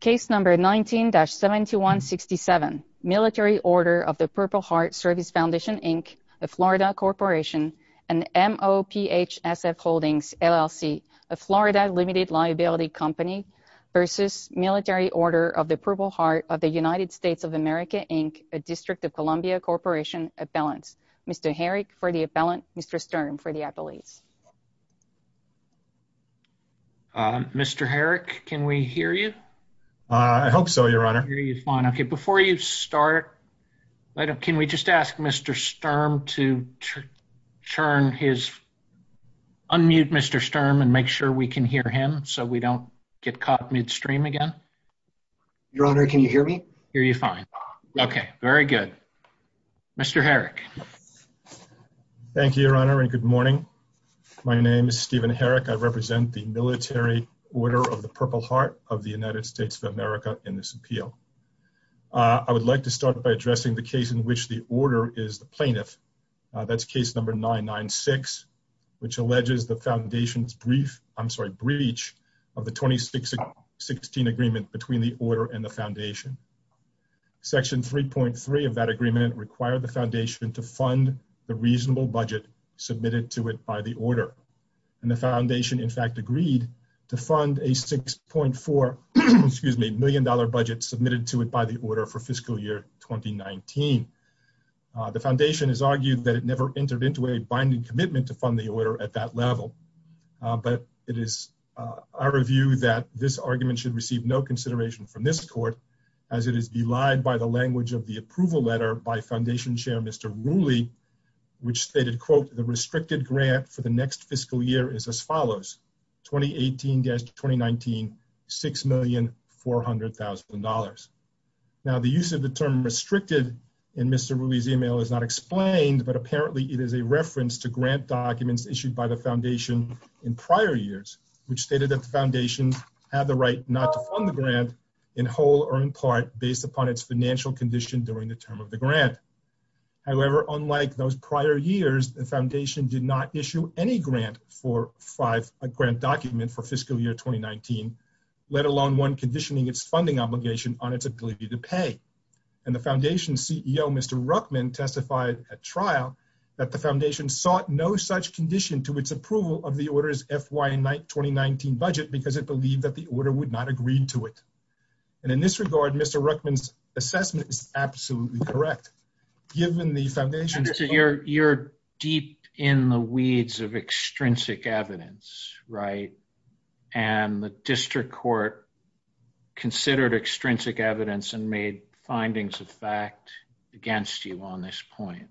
Case number 19-7167, Military Order of the Purple Heart Service Foundation, Inc., a Florida Corporation, and MOPHSF Holdings, LLC, a Florida Limited Liability Company, v. Military Order of the Purple Heart of the United States of America, Inc., a District of Columbia Corporation Appellant. Mr. Herrick for the Appellant, Mr. Stern for the I hope so, Your Honor. Okay, before you start, can we just ask Mr. Sturm to turn his unmute, Mr. Sturm, and make sure we can hear him so we don't get caught midstream again. Your Honor, can you hear me? Hear you fine. Okay, very good. Mr. Herrick. Thank you, Your Honor, and good morning. My name is Stephen Herrick. I represent the Military Order of the Purple Heart of the United States of America in this appeal. I would like to start by addressing the case in which the order is the plaintiff. That's case number 996, which alleges the Foundation's brief, I'm sorry, breach of the 2016 agreement between the Order and the Foundation. Section 3.3 of that agreement required the Foundation to fund the reasonable budget submitted to it by the Order, and the Fund a $6.4 million budget submitted to it by the Order for fiscal year 2019. The Foundation has argued that it never entered into a binding commitment to fund the Order at that level, but it is our view that this argument should receive no consideration from this Court, as it is belied by the language of the approval letter by Foundation Chair Mr. Rooley, which stated, quote, the restricted grant for the next fiscal year is as follows, 2018-2019, $6,400,000. Now, the use of the term restricted in Mr. Rooley's email is not explained, but apparently it is a reference to grant documents issued by the Foundation in prior years, which stated that the Foundation had the right not to fund the grant in whole or in part based upon its financial condition during the term of the grant. However, unlike those prior years, the Foundation did not issue any grant for fiscal year 2019, let alone one conditioning its funding obligation on its ability to pay. And the Foundation's CEO, Mr. Ruckman, testified at trial that the Foundation sought no such condition to its approval of the Order's FY 2019 budget, because it believed that the Order would not agree to it. And in this regard, Mr. Ruckman's assessment is absolutely correct, given the Foundation's... Mr. Ruckman, you're deep in the weeds of extrinsic evidence, right? And the District Court considered extrinsic evidence and made findings of fact against you on this point.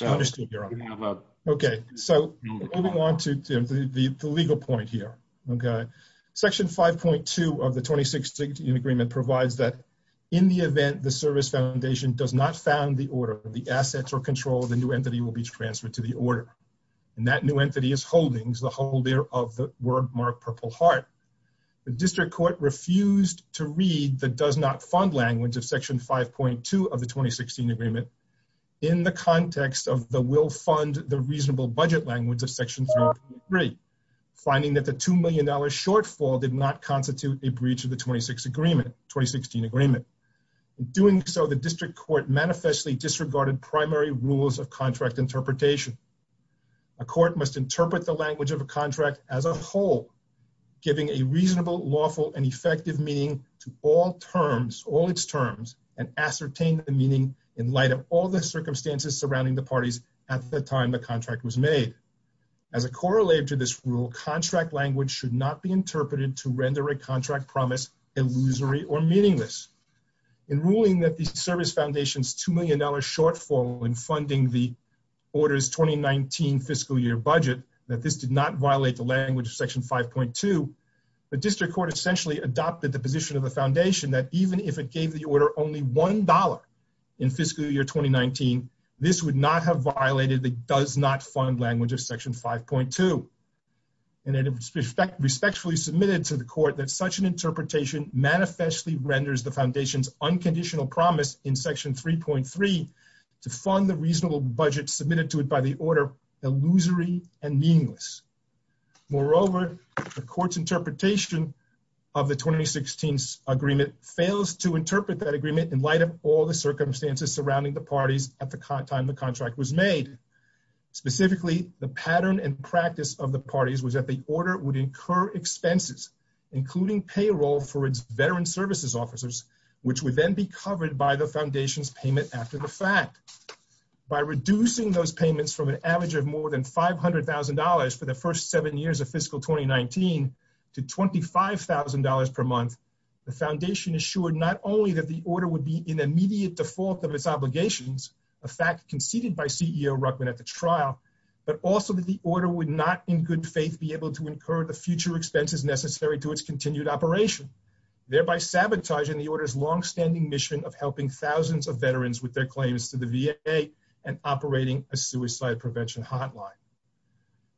I understand, Your Honor. Okay, so moving on to the legal point here, okay? Section 5.2 of the 2016 agreement provides that in the event the Service Foundation does not found the Order, the assets or control of the new entity will be transferred to the Order. And that new entity is Holdings, the holder of the wordmark Purple Heart. The District Court refused to read the does not fund language of Section 5.2 of the 2016 agreement in the context of the will fund the reasonable budget language of Section 5.3, finding that the $2 million shortfall did not constitute a breach of the 2016 agreement. Doing so, the District Court manifestly disregarded primary rules of contract interpretation. A court must interpret the language of a contract as a whole, giving a reasonable, lawful and effective meaning to all terms, all its terms, and ascertain the meaning in light of all the circumstances surrounding the parties at the time the contract was made. As a corollary to this rule, contract language should not be interpreted to render a contract promise illusory or meaningless. In ruling that the Service Foundation's $2 million shortfall in funding the Order's 2019 fiscal year budget, that this did not violate the language of Section 5.2, the District Court essentially adopted the position of the Foundation that even if it gave the Order only $1 in fiscal year 2019, this would not have violated the does not fund language of Section 5.2. And it was respectfully submitted to the Court that such an interpretation manifestly renders the Foundation's unconditional promise in Section 3.3 to fund the reasonable budget submitted to it by the Order illusory and meaningless. Moreover, the Court's interpretation of the 2016 agreement fails to interpret that agreement in light of all the circumstances surrounding the parties at the time the contract was made. Specifically, the pattern and practice of the parties was that the Order would incur expenses, including payroll for its veteran services officers, which would then be covered by the Foundation's payment after the fact. By reducing those payments from an average of more than $500,000 for the first seven years of fiscal 2019 to $25,000 per month, the Foundation assured not only that the Order would be in immediate default of its obligations, a fact conceded by CEO Ruckman at the trial, but also that the Order would not in good faith be able to incur the future expenses necessary to its continued operation, thereby sabotaging the Order's longstanding mission of helping thousands of veterans with their claims to the VA and operating a suicide prevention hotline.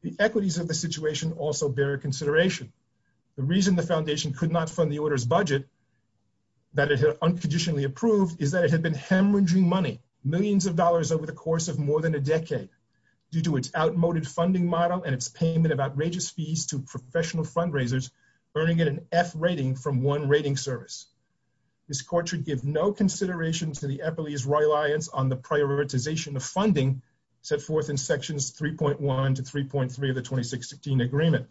The equities of the situation also bear consideration. The reason the Foundation could not fund the Order's budget that it had unconditionally approved is that it had been hemorrhaging money, millions of dollars over the course of more than a decade, due to its outmoded funding model and its payment of outrageous fees to professional fundraisers, earning it an F rating from one rating service. This Court should give no consideration to the agreement.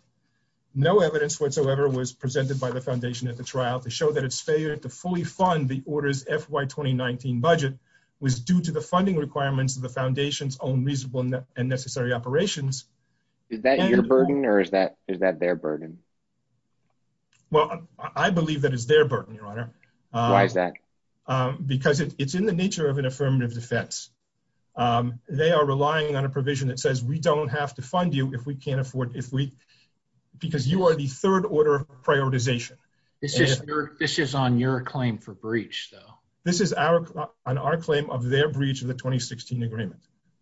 No evidence whatsoever was presented by the Foundation at the trial to show that its failure to fully fund the Order's FY 2019 budget was due to the funding requirements of the Foundation's own reasonable and necessary operations. Is that your burden, or is that their burden? Well, I believe that it's their burden, Your Honor. Why is that? Because it's in the nature of an affirmative defense. They are relying on a provision that says, we don't have to fund you if we can't afford it, because you are the third order of prioritization. This is on your claim for breach, though. This is on our claim of their breach of the 2016 agreement.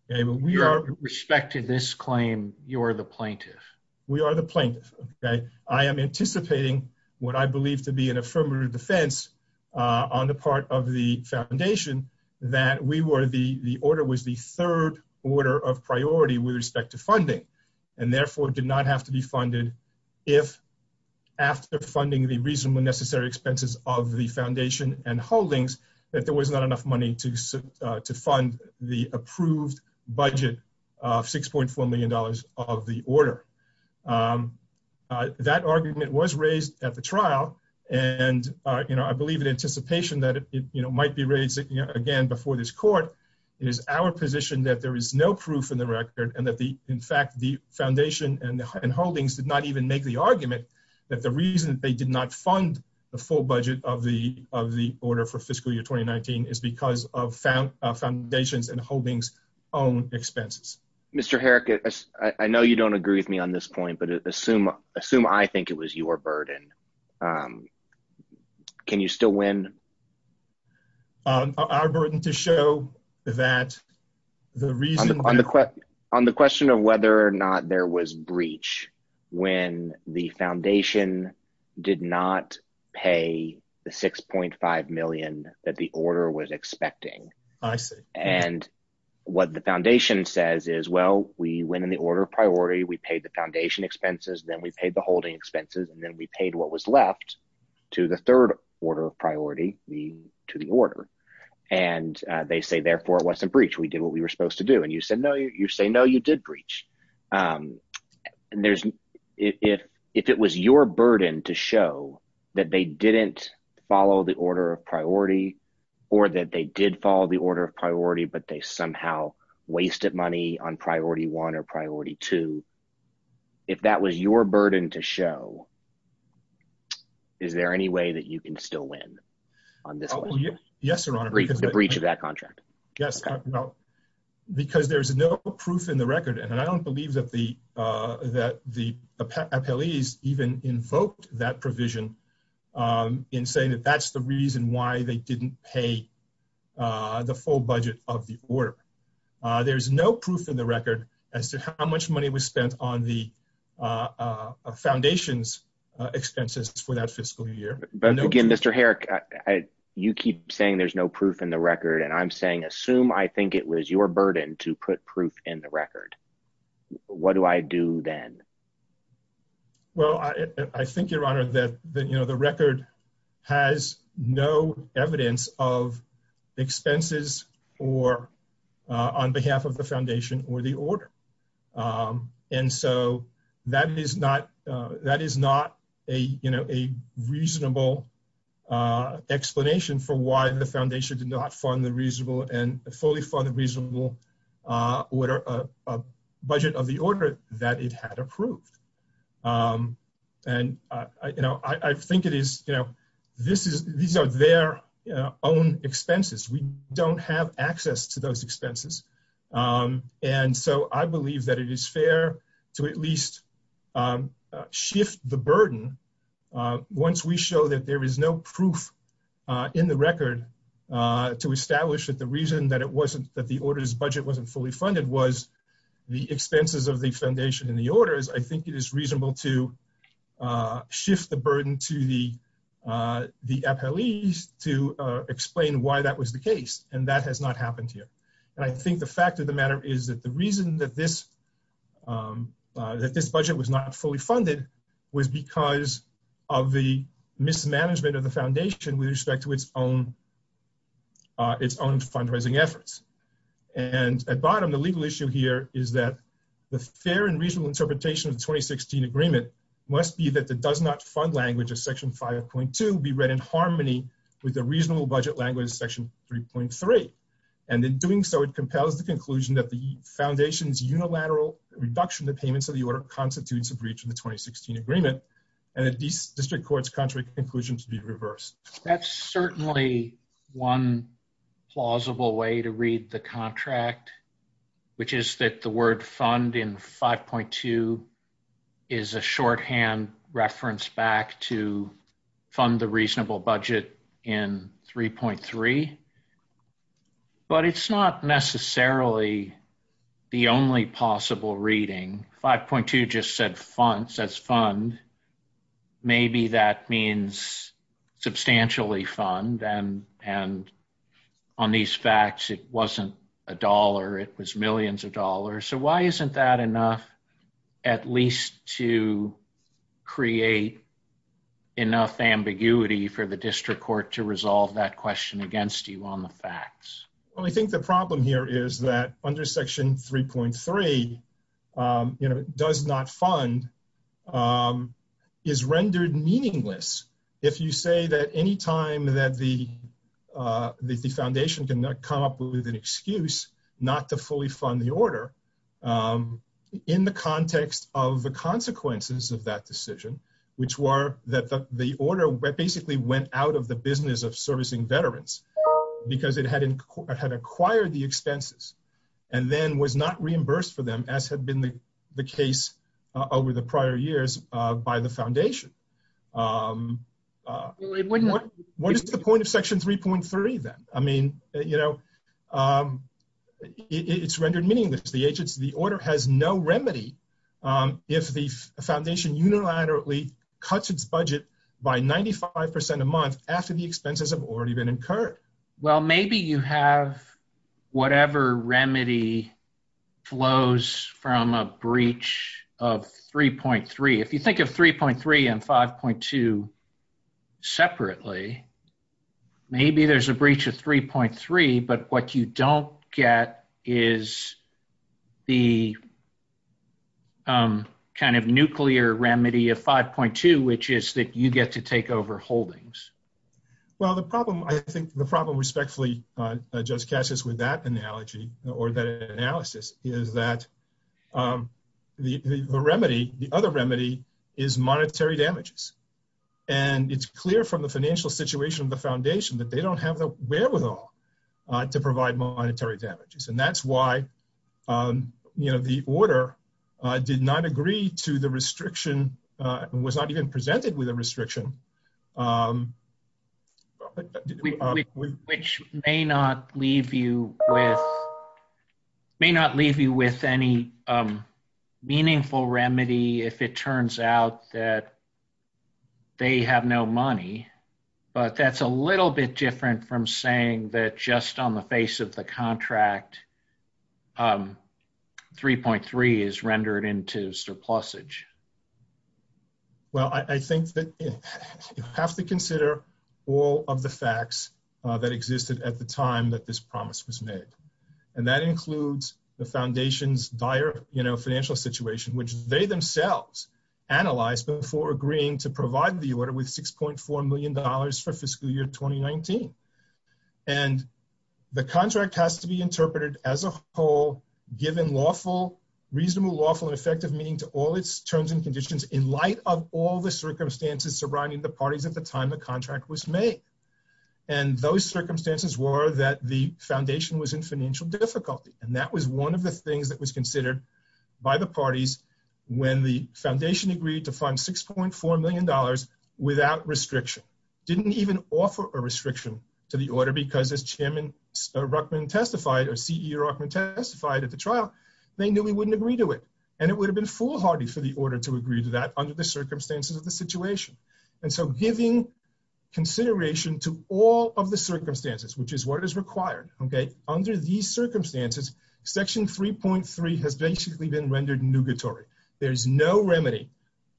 With respect to this claim, you are the plaintiff. We are the plaintiff. I am anticipating what I believe to be an affirmative defense on the part of the Foundation that the third order of priority with respect to funding, and therefore, did not have to be funded if, after funding the reasonable and necessary expenses of the Foundation and holdings, that there was not enough money to fund the approved budget of $6.4 million of the Order. That argument was raised at the trial, and I believe in anticipation that it might be again before this court. It is our position that there is no proof in the record and that, in fact, the Foundation and holdings did not even make the argument that the reason they did not fund the full budget of the Order for fiscal year 2019 is because of Foundation's and holdings' own expenses. Mr. Herrick, I know you don't agree with me on this point, but assume I think it was your burden. Can you still win? Our burden to show that the reason… On the question of whether or not there was breach when the Foundation did not pay the $6.5 million that the Order was expecting. I see. And what the Foundation says is, well, we went in the order of priority, we paid the Foundation expenses, then we paid the holding expenses, and then we paid what was left to the third order of priority, to the Order. And they say, therefore, it wasn't breach. We did what we were supposed to do. And you say, no, you did breach. If it was your burden to show that they didn't follow the order of priority or that they did follow the order of priority, but they somehow wasted money on priority one or priority two, if that was your burden to show, is there any way that you can still win on this one? Yes, Your Honor. The breach of that contract. Yes. Well, because there's no proof in the record, and I don't believe that the appellees even invoked that provision in saying that that's the reason why they didn't pay the full budget of the Order. There's no proof in the record as to how much money was spent on the Foundation's expenses for that fiscal year. But again, Mr. Herrick, you keep saying there's no proof in the record, and I'm saying assume I think it was your burden to put proof in the record. What do I do then? Well, I think, Your Honor, that the record has no evidence of expenses on behalf of the Foundation or the Order. And so that is not a reasonable explanation for why the Foundation did not fund the reasonable and fully fund the reasonable order, a budget of the Order that it had approved. And I think it is, you know, these are their own expenses. We don't have access to those expenses. And so I believe that it is fair to at least shift the burden once we show that there is no proof in the record to establish that the reason that the Order's budget wasn't fully funded was the expenses of the Foundation and the Order. I think it is reasonable to shift the burden to the appellees to explain why that was the case. And that has not happened here. And I think the fact of the matter is that the reason that this budget was not fully funded was because of the mismanagement of the Foundation with fundraising efforts. And at bottom, the legal issue here is that the fair and reasonable interpretation of the 2016 agreement must be that the does not fund language of Section 5.2 be read in harmony with the reasonable budget language of Section 3.3. And in doing so, it compels the conclusion that the Foundation's unilateral reduction of the payments of the Order constitutes a breach of the 2016 agreement, and the District Court's contrary conclusion to be reversed. That's certainly one plausible way to read the contract, which is that the word fund in 5.2 is a shorthand reference back to fund the reasonable budget in 3.3. But it's not necessarily the only possible reading. 5.2 just says fund. Maybe that means substantially fund. And on these facts, it wasn't a dollar. It was millions of dollars. So why isn't that enough at least to create enough ambiguity for the District Court to resolve that question against you on the facts? Well, I think the problem here is that under Section 3.3, does not fund is rendered meaningless. If you say that any time that the Foundation cannot come up with an excuse not to fully fund the Order in the context of the consequences of that decision, which were that the Order basically went out of the business of servicing veterans. Because it had acquired the expenses and then was not reimbursed for them as had been the case over the prior years by the Foundation. What is the point of Section 3.3 then? I mean, it's rendered meaningless. The agents of the Order has no remedy if the Foundation unilaterally cuts its budget by 95% a month after the expenses have already been incurred. Well, maybe you have whatever remedy flows from a breach of 3.3. If you think of 3.3 and 5.2 separately, maybe there's a breach of 3.3. But what you don't get is the kind of nuclear remedy of 5.2, which is that you get to take over holdings. Well, I think the problem respectfully, Judge Cassius, with that analysis is that the other remedy is monetary damages. And it's clear from the financial situation of the Foundation that they don't have the wherewithal to provide monetary damages. And that's why the Order did not agree to the restriction, was not even presented with a restriction. Which may not leave you with any meaningful remedy if it turns out that they have no money. But that's a little bit different from saying that just on the face of the contract, 3.3 is rendered into surplusage. Well, I think that you have to consider all of the facts that existed at the time that this promise was made. And that includes the Foundation's dire financial situation, which they themselves analyzed before agreeing to provide the Order with $6.4 million for fiscal year 2019. And the contract has to be interpreted as a whole, given reasonable, lawful, and effective meaning to all its terms and conditions in light of all the circumstances surrounding the parties at the time the contract was made. And those circumstances were that the Foundation was in financial difficulty. And that was one of the things that by the parties when the Foundation agreed to fund $6.4 million without restriction, didn't even offer a restriction to the Order because as Chairman Ruckman testified, or CEO Ruckman testified at the trial, they knew he wouldn't agree to it. And it would have been foolhardy for the Order to agree to that under the circumstances of the situation. And so giving consideration to all of the circumstances, which is what is required, okay, under these circumstances, Section 3.3 has basically been rendered nugatory. There's no remedy,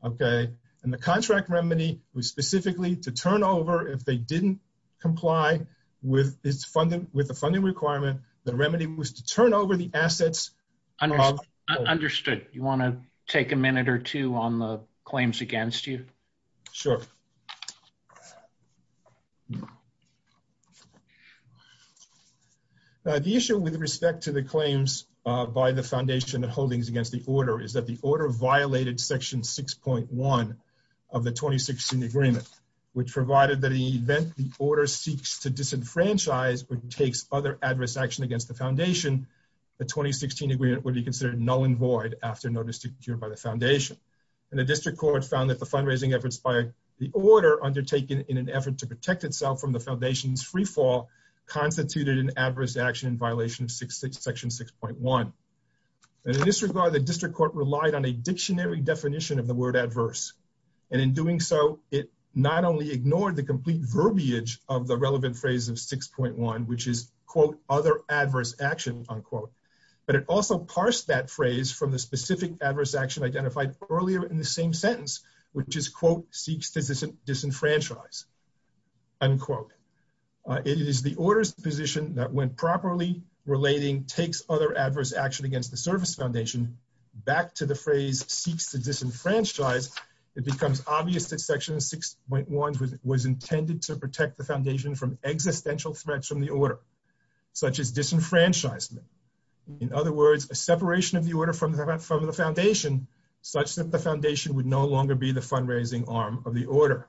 okay? And the contract remedy was specifically to turn over, if they didn't comply with the funding requirement, the remedy was to turn over the assets of... Understood. You want to take a minute or two on the claims against you? Sure. The issue with respect to the claims by the Foundation holdings against the Order is that the Order violated Section 6.1 of the 2016 Agreement, which provided that in the event the Order seeks to disenfranchise or takes other adverse action against the Foundation, the 2016 Agreement would be considered null and void after notice secured by the Foundation. And the District Court found that the fundraising efforts by the Order undertaken in an effort to protect itself from the Foundation's freefall constituted an adverse action in violation of Section 6.1. And in this regard, the District Court relied on a dictionary definition of the word adverse. And in doing so, it not only ignored the complete verbiage of the relevant phrase of 6.1, which is, quote, other adverse action, unquote, but it also parsed that phrase from the specific adverse action identified earlier in the same sentence, which is, quote, seeks to disenfranchise, unquote. It is the Order's position that when properly relating takes other adverse action against the Service Foundation back to the phrase seeks to disenfranchise, it becomes obvious that Section 6.1 was intended to protect the Foundation from existential threats from the Order, such as disenfranchisement. In other words, a separation of the Order from the Foundation, such that the Foundation would no longer be the fundraising arm of the Order.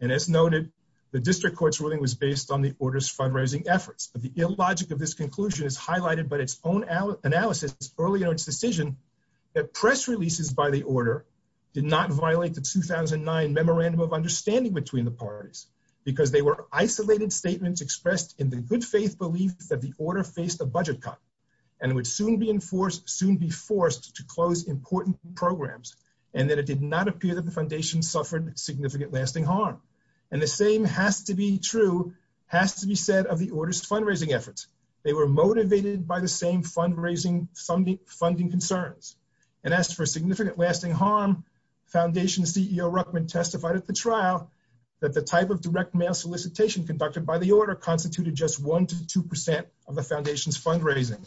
And as noted, the District Court's ruling was based on the Order's fundraising efforts. But the illogic of this conclusion is highlighted by its own analysis earlier in its decision that press releases by the Order did not violate the 2009 Memorandum of Understanding between the parties because they were isolated statements expressed in the good faith belief that the Order faced a budget cut and would soon be enforced, soon be forced to close important programs, and that it did not appear that the Foundation suffered significant lasting harm. And the same has to be true, has to be said of the Order's fundraising efforts. They were motivated by the same fundraising funding concerns. And as for significant lasting harm, Foundation CEO Ruckman testified at the trial that the type of direct mail solicitation conducted by the Order constituted just one to two percent of the Foundation's fundraising.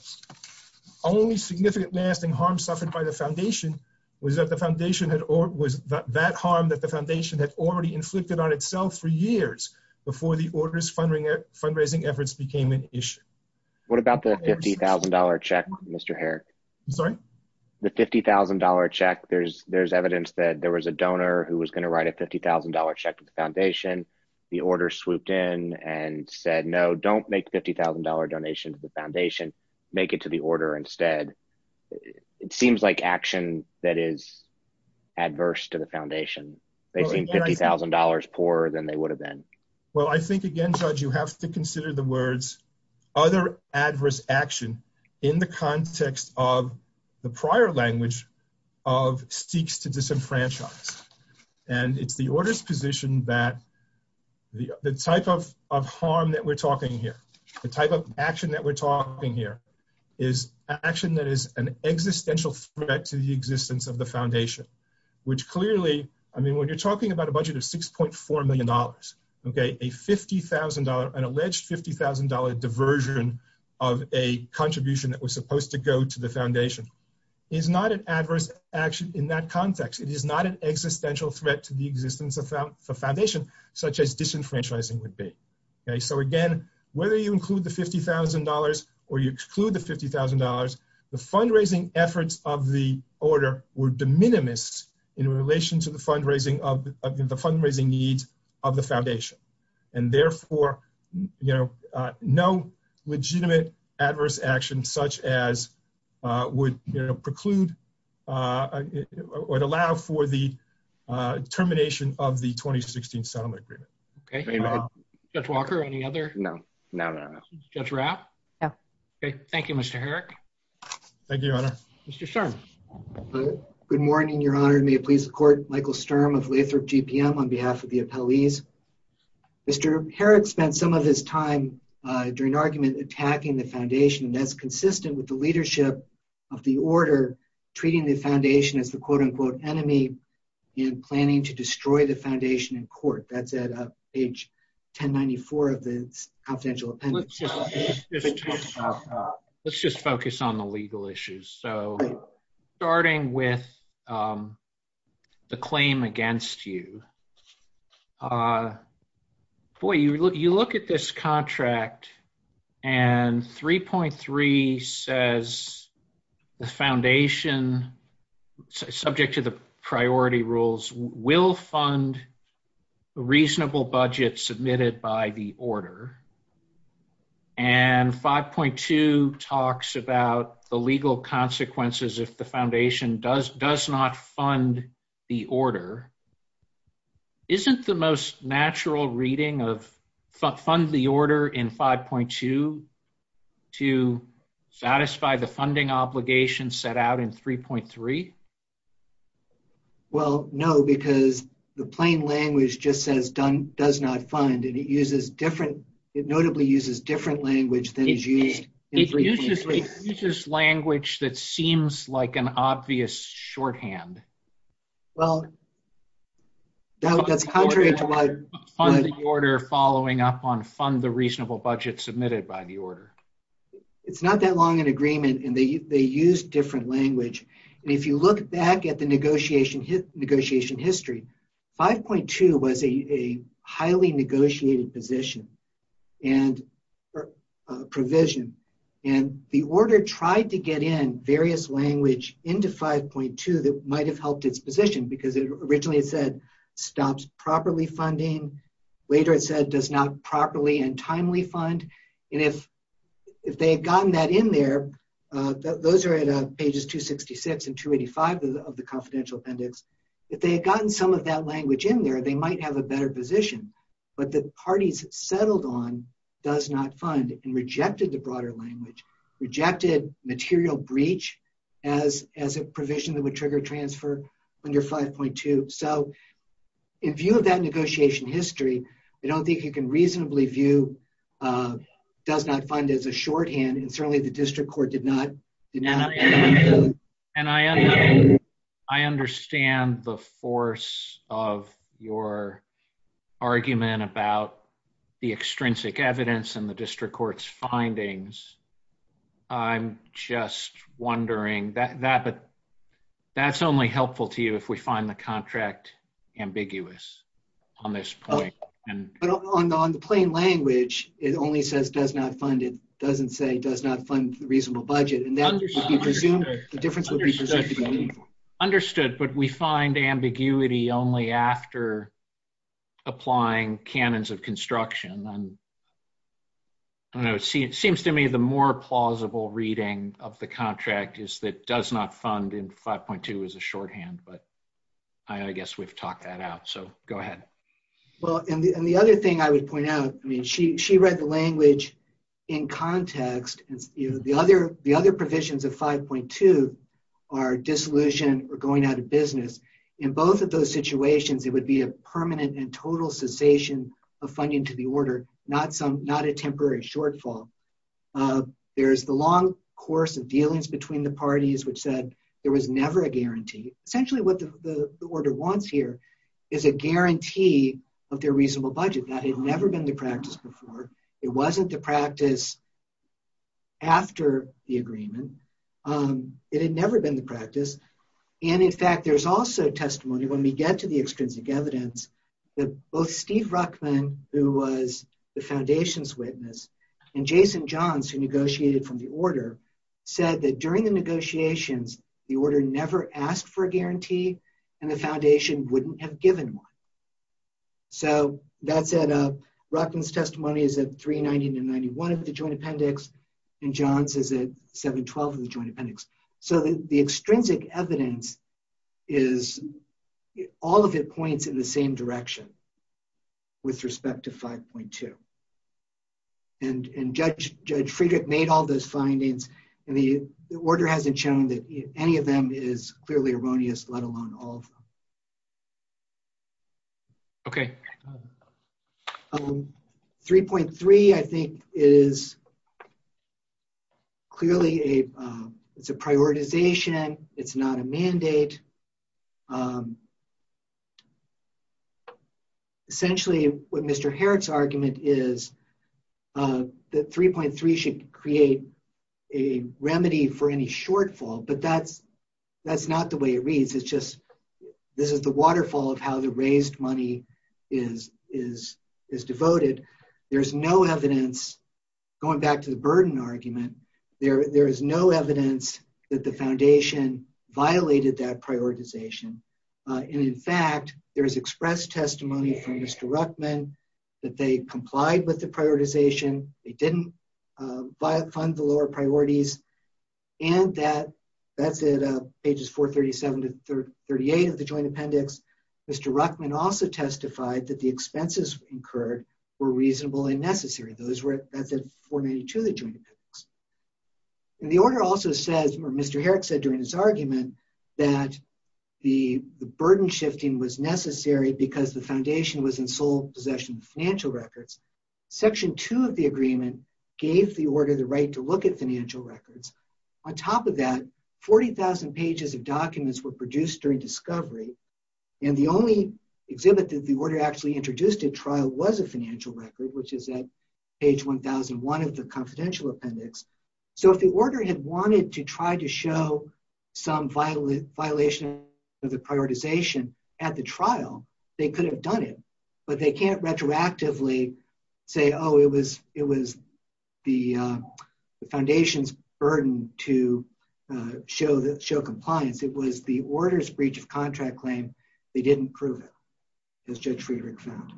Only significant lasting harm suffered by the Foundation was that the Foundation had, or was that harm that the Foundation had already inflicted on itself for years before the Order's fundraising efforts became an issue. What about the $50,000 check, Mr. Herrick? I'm sorry? The $50,000 check, there's evidence that there was a donor who was going to the Foundation. The Order swooped in and said, no, don't make a $50,000 donation to the Foundation, make it to the Order instead. It seems like action that is adverse to the Foundation. They seem $50,000 poorer than they would have been. Well, I think again, Judge, you have to consider the words other adverse action in the context of the prior language of seeks to that the type of harm that we're talking here, the type of action that we're talking here, is action that is an existential threat to the existence of the Foundation, which clearly, I mean, when you're talking about a budget of $6.4 million, okay, a $50,000, an alleged $50,000 diversion of a contribution that was supposed to go to the Foundation, is not an adverse action in that context. It is not an existential threat to the existence of the Foundation, such as disenfranchising would be, okay? So again, whether you include the $50,000 or you exclude the $50,000, the fundraising efforts of the Order were de minimis in relation to the fundraising needs of the Foundation. And therefore, no legitimate adverse action such as would preclude or allow for the termination of the 2016 Settlement Agreement. Okay. Judge Walker, any other? No. No, no, no. Judge Rapp? No. Okay. Thank you, Mr. Herrick. Thank you, Your Honor. Mr. Sturm. Good morning, Your Honor. May it please the Court, Michael Sturm of Lathrop GPM on behalf of the appellees. Mr. Herrick spent some of his time during argument attacking the Foundation, and that's consistent with the leadership of the Order treating the Foundation as the quote-unquote enemy and planning to destroy the Foundation in court. That's at page 1094 of the Confidential Appendix. Let's just focus on the legal issues. So starting with the claim against you, boy, you look at this contract and 3.3 says the Foundation, subject to the priority rules, will fund a reasonable budget submitted by the Order. And 5.2 talks about the legal consequences if the Foundation does not fund the Order. Isn't the most natural reading of fund the Order in 5.2 to satisfy the funding obligation set out in 3.3? Well, no, because the plain language just says does not fund, and it notably uses different language than is used in 3.3. It uses language that seems like an obvious shorthand. Well, that's contrary to what— Fund the Order following up on fund the reasonable budget submitted by the Order. It's not that long an agreement, and they use different language. And if you look back at the negotiation history, 5.2 was a highly negotiated position and provision, and the Order tried to get in various language into 5.2 that might have helped its position, because originally it said stops properly funding. Later it said does not properly and timely fund. And if they had gotten that in there, those are at pages 266 and 285 of the Confidential Appendix. If they had gotten some of that language in there, they might have a better position. But the parties settled on does not fund and rejected the broader language, rejected material breach as a provision that would trigger transfer under 5.2. So in view of that negotiation history, I don't think you can reasonably view does not fund as a shorthand, and certainly the district court did not. And I understand the force of your argument about the extrinsic evidence in the district court's findings. I'm just wondering, that's only helpful to you if we find the contract ambiguous on this point. But on the plain language, it only says does not fund. It doesn't say does not fund reasonable budget. And that would be presumed, the difference would be presumed to be meaningful. Understood. But we find ambiguity only after applying canons of construction. And I don't know, it seems to me the more plausible reading of the contract is that does not fund in 5.2 as a shorthand. But I guess we've talked that out. So go ahead. Well, and the other thing I would point out, I mean, she read the language in context. The other provisions of 5.2 are dissolution or going out of business. In both of those situations, it would be a permanent and total cessation of funding to the order, not a temporary shortfall. There's the long course of dealings between the parties which said there was never a guarantee. Essentially what the order wants here is a guarantee of their practice after the agreement. It had never been the practice. And in fact, there's also testimony when we get to the extrinsic evidence that both Steve Ruckman, who was the foundation's witness, and Jason Johns, who negotiated from the order, said that during the negotiations, the order never asked for a guarantee and the foundation wouldn't have given one. So that said, Ruckman's testimony is at 390 to 91 of the joint appendix, and Johns is at 712 of the joint appendix. So the extrinsic evidence is all of it points in the same direction with respect to 5.2. And Judge Friedrich made all those findings, and the order hasn't shown that any of them is clearly erroneous, let alone all of them. Okay. 3.3, I think, is clearly a, it's a prioritization. It's not a mandate. Essentially, what Mr. Herod's argument is that 3.3 should create a remedy for any shortfall, but that's not the way it reads. It's just, this is the waterfall of how the raised money is devoted. There's no evidence, going back to the burden argument, there is no evidence that the foundation violated that prioritization. And in fact, there's expressed testimony from Mr. Ruckman that they complied with the prioritization, they didn't fund the lower priorities, and that's at pages 437 to 338 of the joint appendix. Mr. Ruckman also testified that the expenses incurred were reasonable and necessary. That's at 492 of the joint appendix. And the order also says, or Mr. Herod said during his argument, that the burden shifting was necessary because the foundation was in sole possession of financial records. Section 2 of the joint appendix is the right to look at financial records. On top of that, 40,000 pages of documents were produced during discovery. And the only exhibit that the order actually introduced at trial was a financial record, which is at page 1001 of the confidential appendix. So if the order had wanted to try to show some violation of the prioritization at the trial, they could have done it, but they can't retroactively say, oh, it was the foundation's burden to show compliance. It was the order's breach of contract claim. They didn't prove it, as Judge Friedrich found.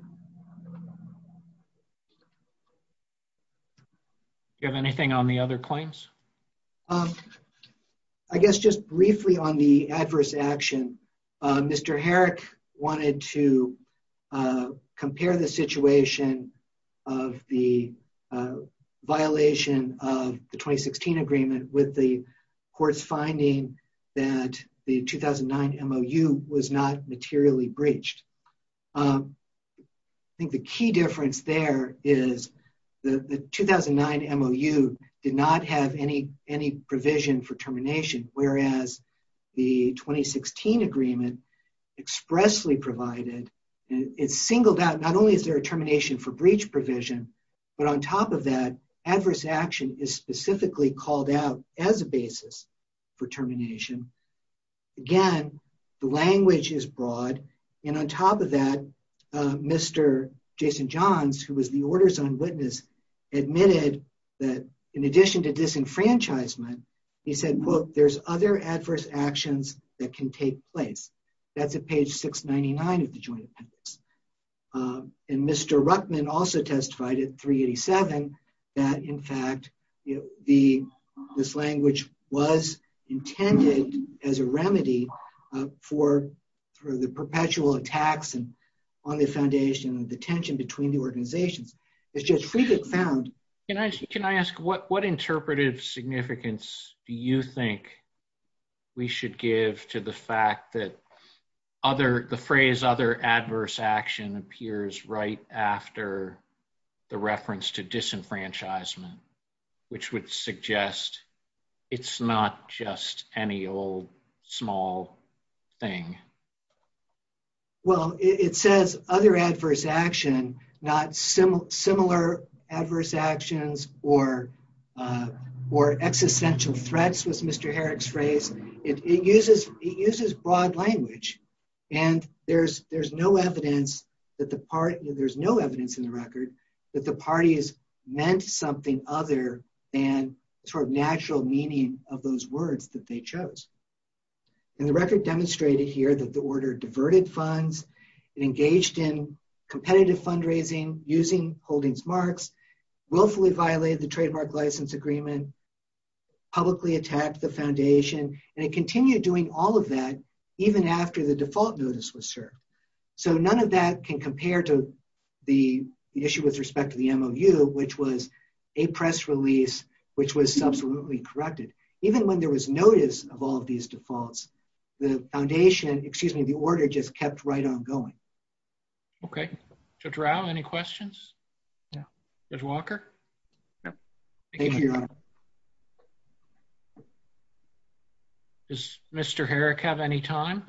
Do you have anything on the other claims? Um, I guess just briefly on the adverse action, Mr. Herrick wanted to compare the situation of the violation of the 2016 agreement with the court's finding that the 2009 MOU was not any provision for termination, whereas the 2016 agreement expressly provided, it's singled out, not only is there a termination for breach provision, but on top of that, adverse action is specifically called out as a basis for termination. Again, the language is broad. And on top of that, Mr. Jason Johns, who was the order's witness, admitted that in addition to disenfranchisement, he said, quote, there's other adverse actions that can take place. That's at page 699 of the joint appendix. And Mr. Ruckman also testified at 387 that, in fact, this language was intended as a remedy for the perpetual attacks on the foundation of the tension between the organizations. As Judge Friedrich found... Can I ask, what interpretive significance do you think we should give to the fact that the phrase other adverse action appears right after the reference to disenfranchisement, which would suggest it's not just any old, small thing? Well, it says other adverse action, not similar adverse actions or existential threats, was Mr. Herrick's phrase. It uses broad language. And there's no evidence that the party... There's no evidence in the record that the parties meant something other than sort of natural meaning of those words that they chose. And the record demonstrated here that the order diverted funds, it engaged in competitive fundraising using holdings marks, willfully violated the trademark license agreement, publicly attacked the foundation, and it continued doing all of that even after the default notice was served. So none of that can compare to the issue with respect to the MOU, which was a press release, which was the order just kept right on going. Okay. Judge Rao, any questions? Judge Walker? Thank you, Your Honor. Does Mr. Herrick have any time?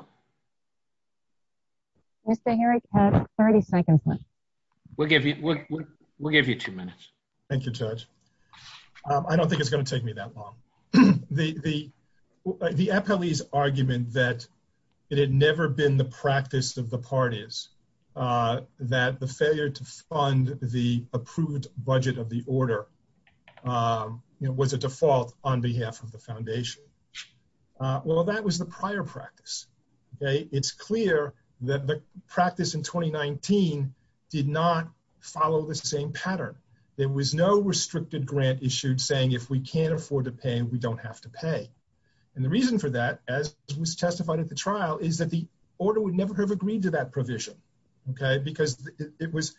Mr. Herrick has 30 seconds left. We'll give you two minutes. Thank you, Judge. I don't think it's gonna take me that long. The appellee's argument that it had never been the practice of the parties that the failure to fund the approved budget of the order was a default on behalf of the foundation. Well, that was the prior practice. It's clear that the practice in 2019 did not restrict the grant issued saying if we can't afford to pay, we don't have to pay. And the reason for that, as was testified at the trial, is that the order would never have agreed to that provision. Okay, because it was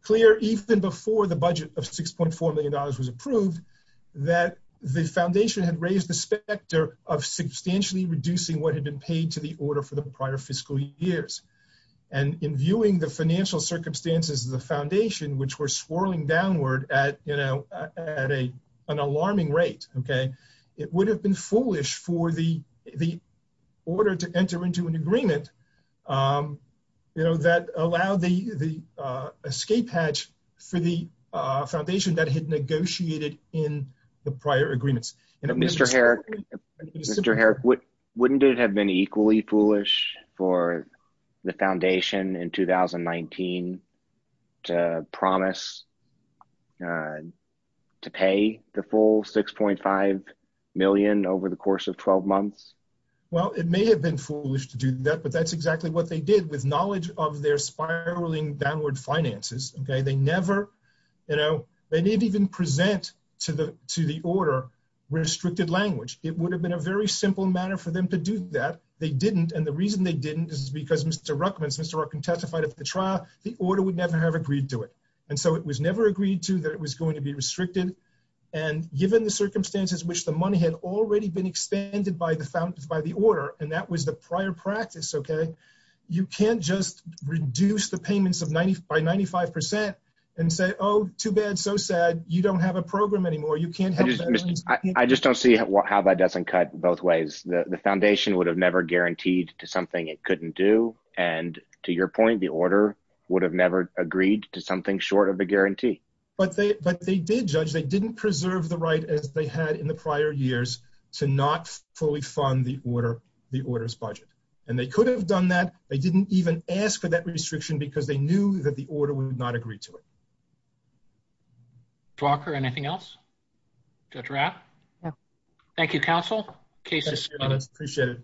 clear even before the budget of $6.4 million was approved, that the foundation had raised the specter of substantially reducing what had been paid to the order for the prior fiscal years. And in viewing the financial circumstances, the foundation, which were swirling downward at an alarming rate, it would have been foolish for the order to enter into an agreement that allowed the escape hatch for the foundation that had negotiated in the prior agreements. Mr. Herrick, wouldn't it have been equally foolish for the foundation in 2019 to promise to pay the full $6.5 million over the course of 12 months? Well, it may have been foolish to do that, but that's exactly what they did with knowledge of their spiraling downward finances. They didn't even present to the order restricted language. It would have been a very simple matter for them to do that. They didn't. And the reason they didn't is because Mr. Ruckman testified at the trial, the order would never have agreed to it. And so it was never agreed to that it was going to be restricted. And given the circumstances, which the money had already been expanded by the order, and that was the prior practice, okay, you can't just reduce the payments by 95% and say, oh, too bad, so sad, you don't have a program anymore. I just don't see how that doesn't cut both ways. The foundation would have never guaranteed to and to your point, the order would have never agreed to something short of a guarantee. But they did, Judge, they didn't preserve the right as they had in the prior years to not fully fund the order's budget. And they could have done that. They didn't even ask for that restriction because they knew that the order would not agree to it. Dr. Walker, anything else? Judge Rapp? Thank you, counsel. Case is closed. Appreciate it.